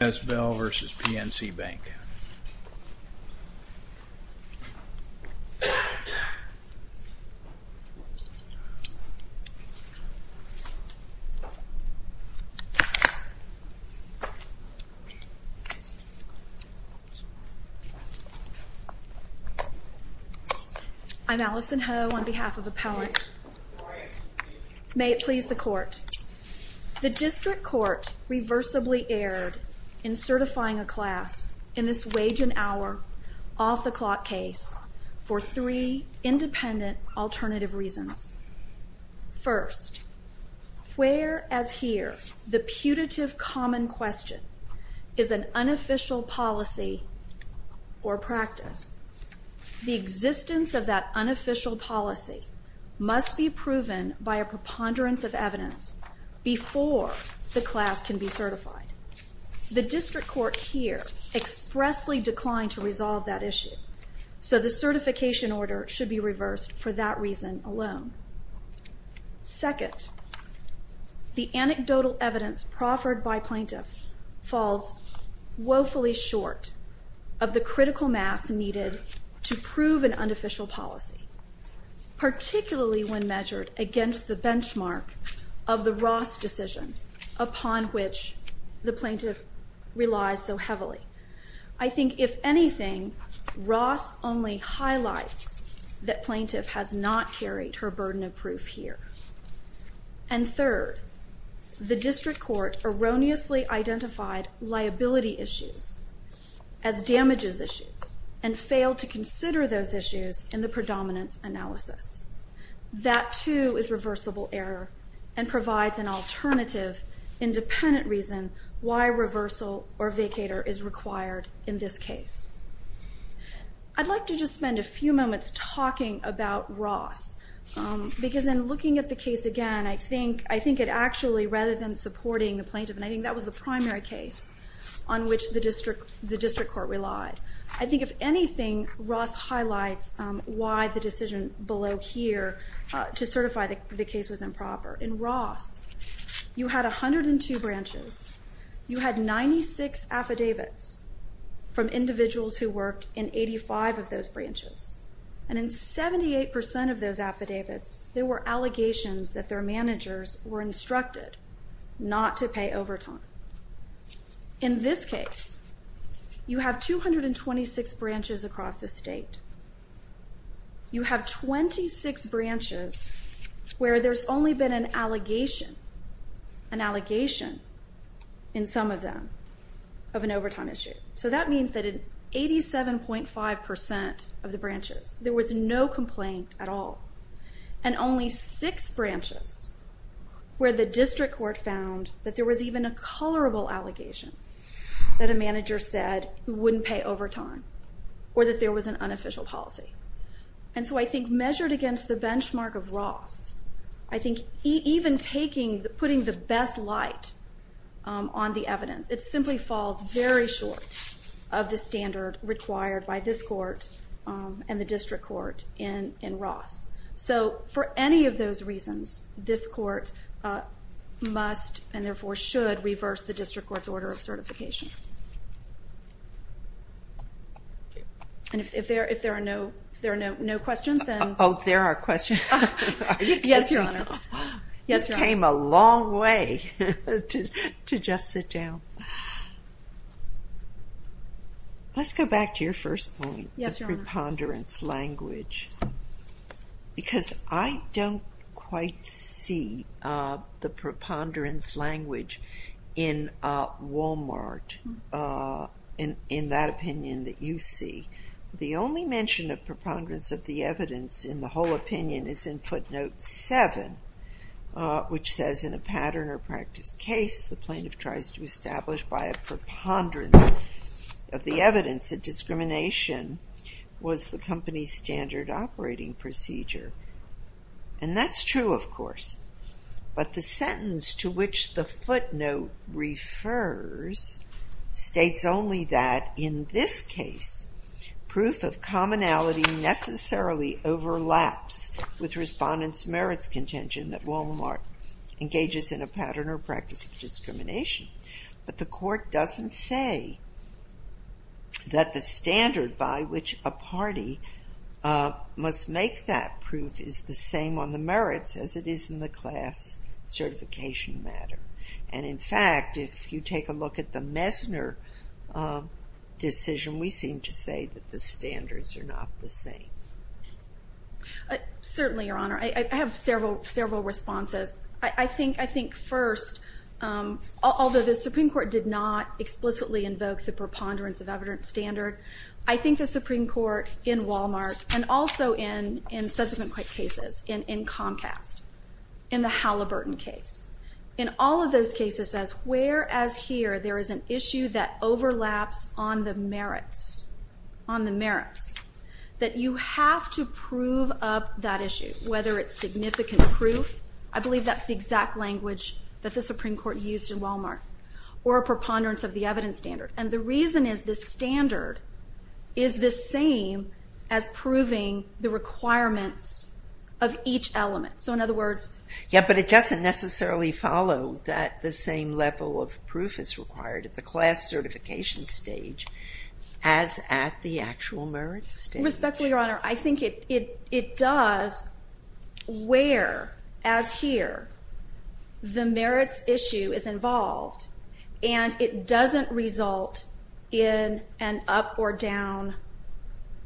I'm Allison Ho on behalf of Appellate. May it please the court. The district court reversibly erred in certifying a class in this wage and hour off-the-clock case for three independent alternative reasons. First, where as here the putative common question is an unofficial policy or practice, the existence of that unofficial policy must be proven by a preponderance of evidence before the class can be certified. The district court here expressly declined to resolve that issue, so the certification order should be reversed for that reason alone. Second, the anecdotal evidence proffered by plaintiffs falls woefully short of the critical mass needed to prove an unofficial policy. Particularly when measured against the benchmark of the Ross decision, upon which the plaintiff relies so heavily. I think if anything, Ross only highlights that plaintiff has not carried her burden of proof here. And third, the district court erroneously identified liability issues as damages issues and failed to consider those issues in the predominance analysis. That too is reversible error and provides an alternative independent reason why reversal or vacator is required in this case. I'd like to just spend a few moments talking about Ross. Because in looking at the case again, I think it actually, rather than supporting the plaintiff, and I think that was the primary case on which the district court relied. I think if anything, Ross highlights why the decision below here to certify the case was improper. In Ross, you had 102 branches. You had 96 affidavits from individuals who worked in 85 of those branches. And in 78% of those affidavits, there were allegations that their managers were instructed not to pay overtime. In this case, you have 226 branches across the state. You have 26 branches where there's only been an allegation, an allegation in some of them, of an overtime issue. So that means that in 87.5% of the branches, there was no complaint at all. And only six branches where the district court found that there was even a colorable allegation that a manager said wouldn't pay overtime. Or that there was an unofficial policy. And so I think measured against the benchmark of Ross, I think even putting the best light on the evidence, it simply falls very short of the standard required by this court and the district court in Ross. So for any of those reasons, this court must and therefore should reverse the district court's order of certification. And if there are no questions, then... Oh, there are questions. Yes, Your Honor. It came a long way to just sit down. Let's go back to your first point, the preponderance language. Because I don't quite see the preponderance language in Walmart, in that opinion that you see. The only mention of preponderance of the evidence in the whole opinion is in footnote 7, which says in a pattern or practice case, the plaintiff tries to establish by a preponderance of the evidence that discrimination was the company's standard operating procedure. But the sentence to which the footnote refers states only that in this case, proof of commonality necessarily overlaps with respondents' merits contention that Walmart engages in a pattern or practice of discrimination. But the court doesn't say that the standard by which a party must make that proof is the same on the merits as it is in the class certification matter. And in fact, if you take a look at the Messner decision, we seem to say that the standards are not the same. Certainly, Your Honor. I have several responses. I think first, although the Supreme Court did not explicitly invoke the preponderance of evidence standard, I think the Supreme Court in Walmart and also in subsequent cases, in Comcast, in the Halliburton case, in all of those cases says whereas here there is an issue that overlaps on the merits, that you have to prove up that issue, whether it's significant proof, I believe that's the exact language that the Supreme Court used in Walmart, or a preponderance of the evidence standard. And the reason is the standard is the same as proving the requirements of each element. So in other words... Yeah, but it doesn't necessarily follow that the same level of proof is required at the class certification stage as at the actual merits stage. Respectfully, Your Honor, I think it does where, as here, the merits issue is involved and it doesn't result in an up or down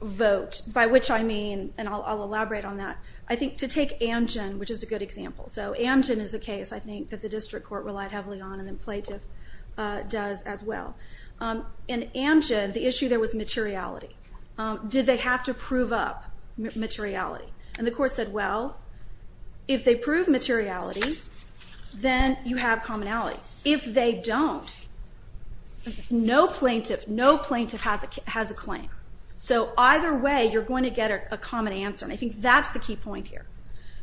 vote, by which I mean, and I'll elaborate on that, I think to take Amgen, which is a good example. So Amgen is a case, I think, that the district court relied heavily on and the plaintiff does as well. In Amgen, the issue there was materiality. Did they have to prove up materiality? And the court said, well, if they prove materiality, then you have commonality. If they don't, no plaintiff has a claim. So either way, you're going to get a common answer, and I think that's the key point here,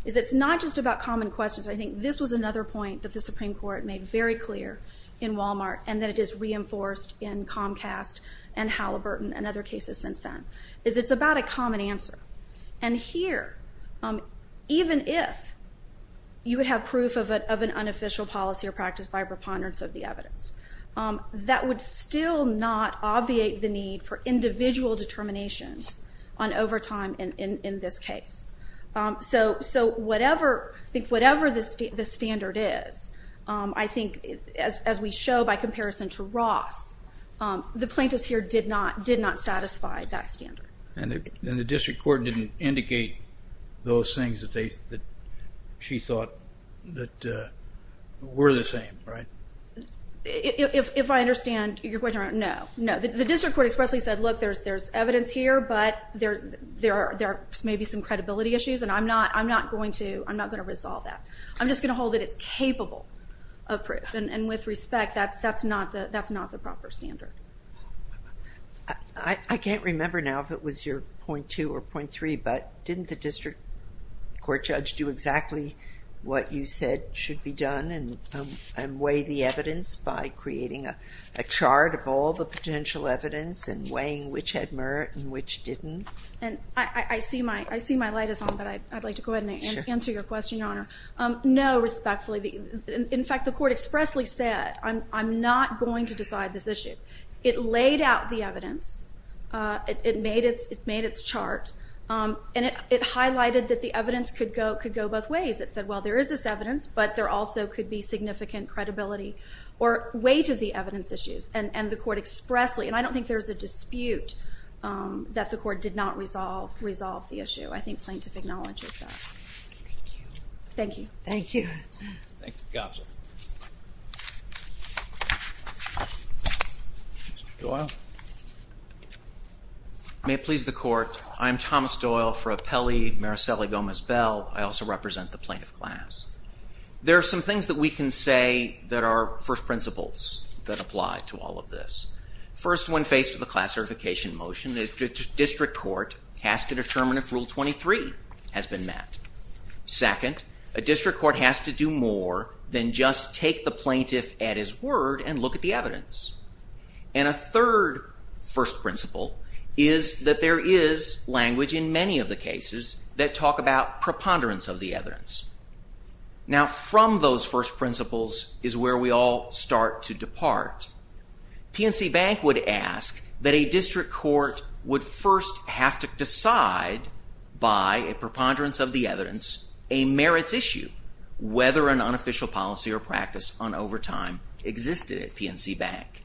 is it's not just about common questions. I think this was another point that the Supreme Court made very clear in Walmart and that it is reinforced in Comcast and Halliburton and other cases since then, is it's about a common answer. And here, even if you would have proof of an unofficial policy or practice by preponderance of the evidence, that would still not obviate the need for individual determinations on overtime in this case. So whatever the standard is, I think, as we show by comparison to Ross, the plaintiffs here did not satisfy that standard. And the district court didn't indicate those things that she thought were the same, right? If I understand your question, no. The district court expressly said, look, there's evidence here, but there may be some credibility issues, and I'm not going to resolve that. I'm just going to hold that it's capable of proof, and with respect, that's not the proper standard. I can't remember now if it was your point two or point three, but didn't the district court judge do exactly what you said should be done and weigh the evidence by creating a chart of all the potential evidence and weighing which had merit and which didn't? I see my light is on, but I'd like to go ahead and answer your question, Your Honor. No, respectfully. In fact, the court expressly said, I'm not going to decide this issue. It laid out the evidence. It made its chart, and it highlighted that the evidence could go both ways. It said, well, there is this evidence, but there also could be significant credibility or weight of the evidence issues, and the court expressly, and I don't think there was a dispute that the court did not resolve the issue. I think plaintiff acknowledges that. Thank you. Thank you. Thank you, counsel. Mr. Doyle. May it please the court, I am Thomas Doyle for Appellee Mariseli Gomez-Bell. I also represent the plaintiff class. There are some things that we can say that are first principles that apply to all of this. First, when faced with a class certification motion, the district court has to determine if Rule 23 has been met. Second, a district court has to do more than just take the plaintiff at his word and look at the evidence. And a third first principle is that there is language in many of the cases that talk about preponderance of the evidence. Now, from those first principles is where we all start to depart. PNC Bank would ask that a district court would first have to decide by a preponderance of the evidence a merits issue, whether an unofficial policy or practice on overtime existed at PNC Bank.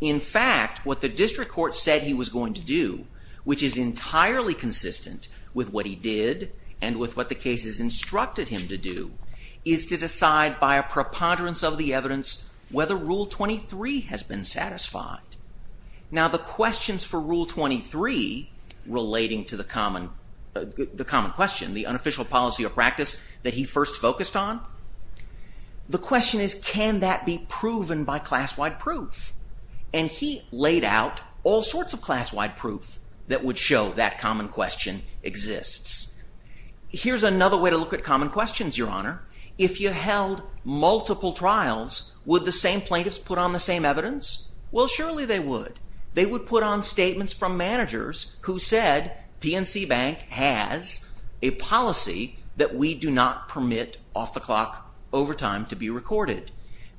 In fact, what the district court said he was going to do, which is entirely consistent with what he did and with what the cases instructed him to do, is to decide by a preponderance of the evidence whether Rule 23 has been satisfied. Now, the questions for Rule 23 relating to the common question, the unofficial policy or practice that he first focused on, the question is can that be proven by class-wide proof? And he laid out all sorts of class-wide proof that would show that common question exists. Here's another way to look at common questions, Your Honor. If you held multiple trials, would the same plaintiffs put on the same evidence? Well, surely they would. They would put on statements from managers who said PNC Bank has a policy that we do not permit off-the-clock overtime to be recorded.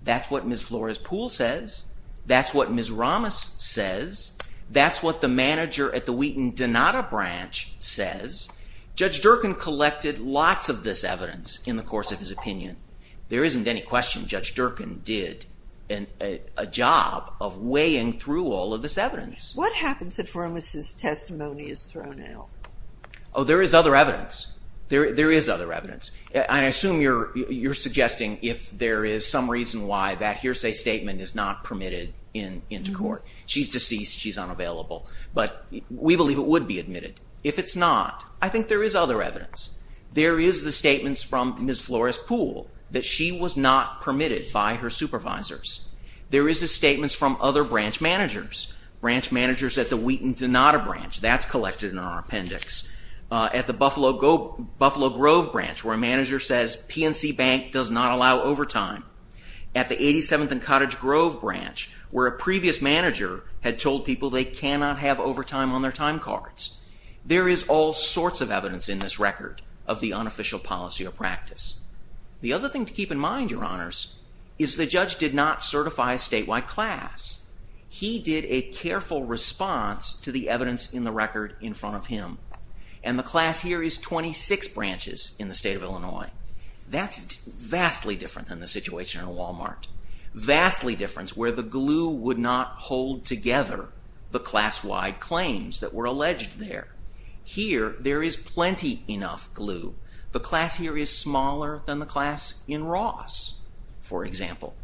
That's what Ms. Flores-Poole says. That's what Ms. Ramos says. That's what the manager at the Wheaton-Donato branch says. Judge Durkan collected lots of this evidence in the course of his opinion. There isn't any question Judge Durkan did a job of weighing through all of this evidence. What happens if Ramos's testimony is thrown out? Oh, there is other evidence. There is other evidence. I assume you're suggesting if there is some reason why that hearsay statement is not permitted into court. She's deceased. She's unavailable. But we believe it would be admitted. If it's not, I think there is other evidence. There is the statements from Ms. Flores-Poole that she was not permitted by her supervisors. There is the statements from other branch managers, branch managers at the Wheaton-Donato branch. That's collected in our appendix. At the Buffalo Grove branch, where a manager says PNC Bank does not allow overtime. At the 87th and Cottage Grove branch, where a previous manager had told people they cannot have overtime on their time cards. There is all sorts of evidence in this record of the unofficial policy or practice. The other thing to keep in mind, Your Honors, is the judge did not certify a statewide class. He did a careful response to the evidence in the record in front of him. And the class here is 26 branches in the state of Illinois. That's vastly different than the situation at Walmart. Vastly different, where the glue would not hold together the class-wide claims that were alleged there. Here, there is plenty enough glue. The class here is smaller than the class in Ross, for example.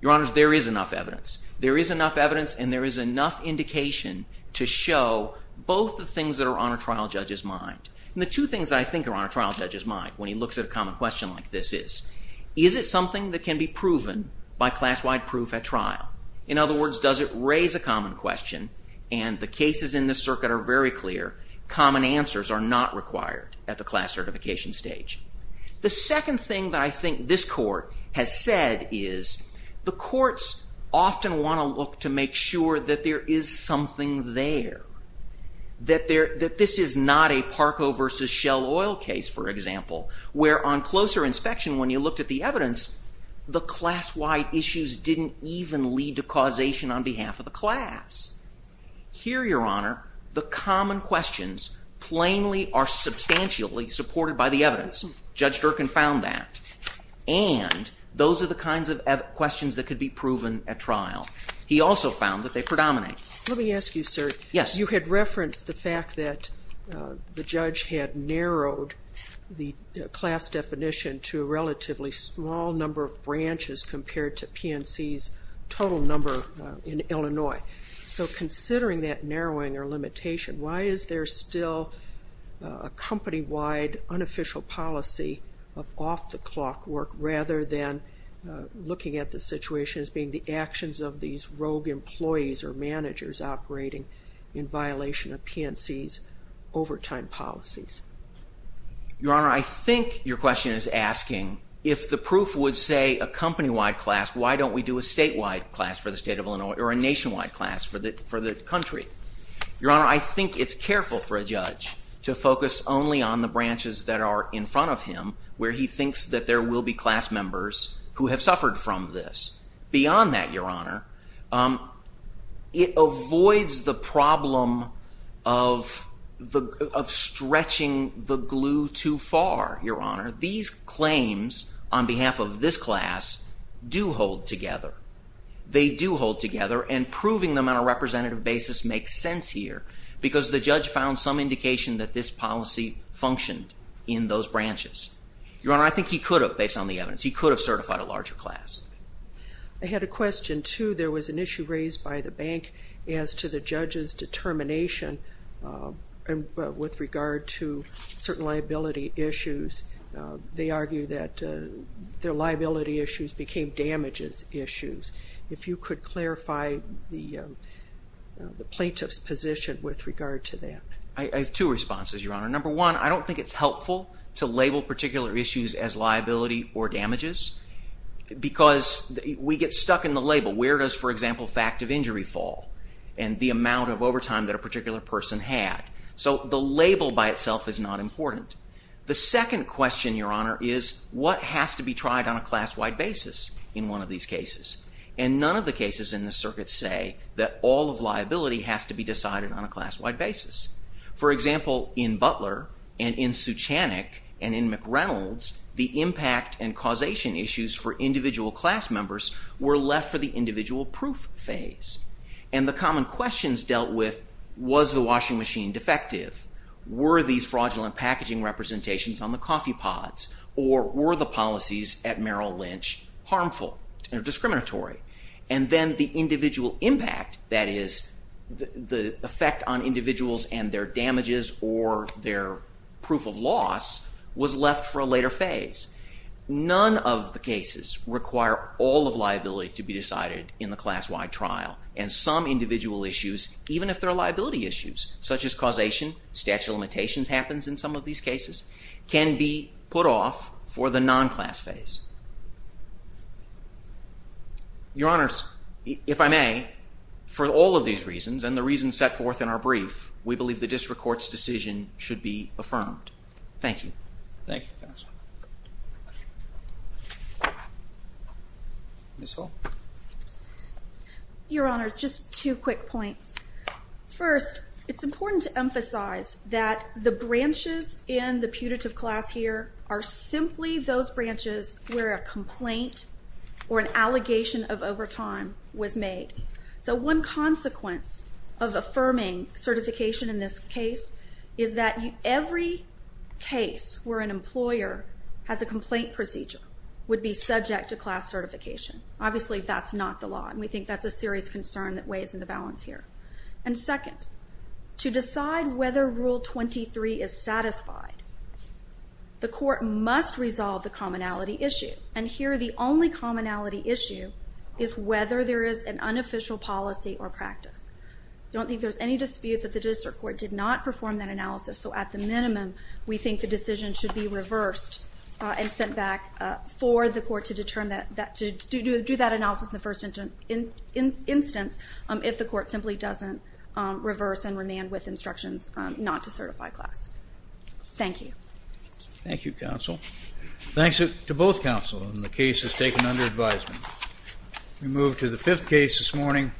Your Honors, there is enough evidence. There is enough evidence and there is enough indication to show both the things that are on a trial judge's mind. And the two things that I think are on a trial judge's mind when he looks at a common question like this is, is it something that can be proven by class-wide proof at trial? In other words, does it raise a common question? And the cases in this circuit are very clear. Common answers are not required at the class certification stage. The second thing that I think this Court has said is the courts often want to look to make sure that there is something there. That this is not a Parco v. Shell Oil case, for example, where on closer inspection, when you looked at the evidence, the class-wide issues didn't even lead to causation on behalf of the class. Here, Your Honor, the common questions plainly are substantially supported by the evidence. Judge Durkin found that. And those are the kinds of questions that could be proven at trial. He also found that they predominate. Let me ask you, sir. Yes. You had referenced the fact that the judge had narrowed the class definition to a relatively small number of branches compared to PNC's total number in Illinois. So considering that narrowing or limitation, why is there still a company-wide unofficial policy of off-the-clock work rather than looking at the situation as being the actions of these rogue employees or managers operating in violation of PNC's overtime policies? Your Honor, I think your question is asking, if the proof would say a company-wide class, why don't we do a statewide class for the state of Illinois or a nationwide class for the country? Your Honor, I think it's careful for a judge to focus only on the branches that are in front of him where he thinks that there will be class members who have suffered from this. Beyond that, Your Honor, it avoids the problem of stretching the glue too far, Your Honor. These claims on behalf of this class do hold together. They do hold together, and proving them on a representative basis makes sense here because the judge found some indication that this policy functioned in those branches. Your Honor, I think he could have, based on the evidence, he could have certified a larger class. I had a question, too. There was an issue raised by the bank as to the judge's determination with regard to certain liability issues. They argue that their liability issues became damages issues. If you could clarify the plaintiff's position with regard to that. I have two responses, Your Honor. Number one, I don't think it's helpful to label particular issues as liability or damages because we get stuck in the label. Where does, for example, fact of injury fall and the amount of overtime that a particular person had? So the label by itself is not important. The second question, Your Honor, is what has to be tried on a class-wide basis in one of these cases? And none of the cases in this circuit say that all of liability has to be decided on a class-wide basis. For example, in Butler and in Suchanick and in McReynolds, the impact and causation issues for individual class members were left for the individual proof phase. And the common questions dealt with was the washing machine defective? Were these fraudulent packaging representations on the coffee pods? Or were the policies at Merrill Lynch harmful and discriminatory? And then the individual impact, that is, the effect on individuals and their damages or their proof of loss, was left for a later phase. None of the cases require all of liability to be decided in the class-wide trial. And some individual issues, even if they're liability issues, such as causation, statute of limitations happens in some of these cases, can be put off for the non-class phase. Your Honors, if I may, for all of these reasons and the reasons set forth in our brief, we believe the district court's decision should be affirmed. Thank you. Thank you, counsel. Ms. Hall. Your Honors, just two quick points. First, it's important to emphasize that the branches in the putative class here are simply those branches where a complaint or an allegation of overtime was made. So one consequence of affirming certification in this case is that every case where an employer has a complaint procedure would be subject to class certification. Obviously, that's not the law. And we think that's a serious concern that weighs in the balance here. And second, to decide whether Rule 23 is satisfied, the court must resolve the commonality issue. And here, the only commonality issue is whether there is an unofficial policy or practice. I don't think there's any dispute that the district court did not perform that analysis. So at the minimum, we think the decision should be reversed and sent back for the court to do that analysis in the first instance if the court simply doesn't reverse and remain with instructions not to certify class. Thank you. Thank you, counsel. Thanks to both counsel in the cases taken under advisement. We move to the fifth case this morning.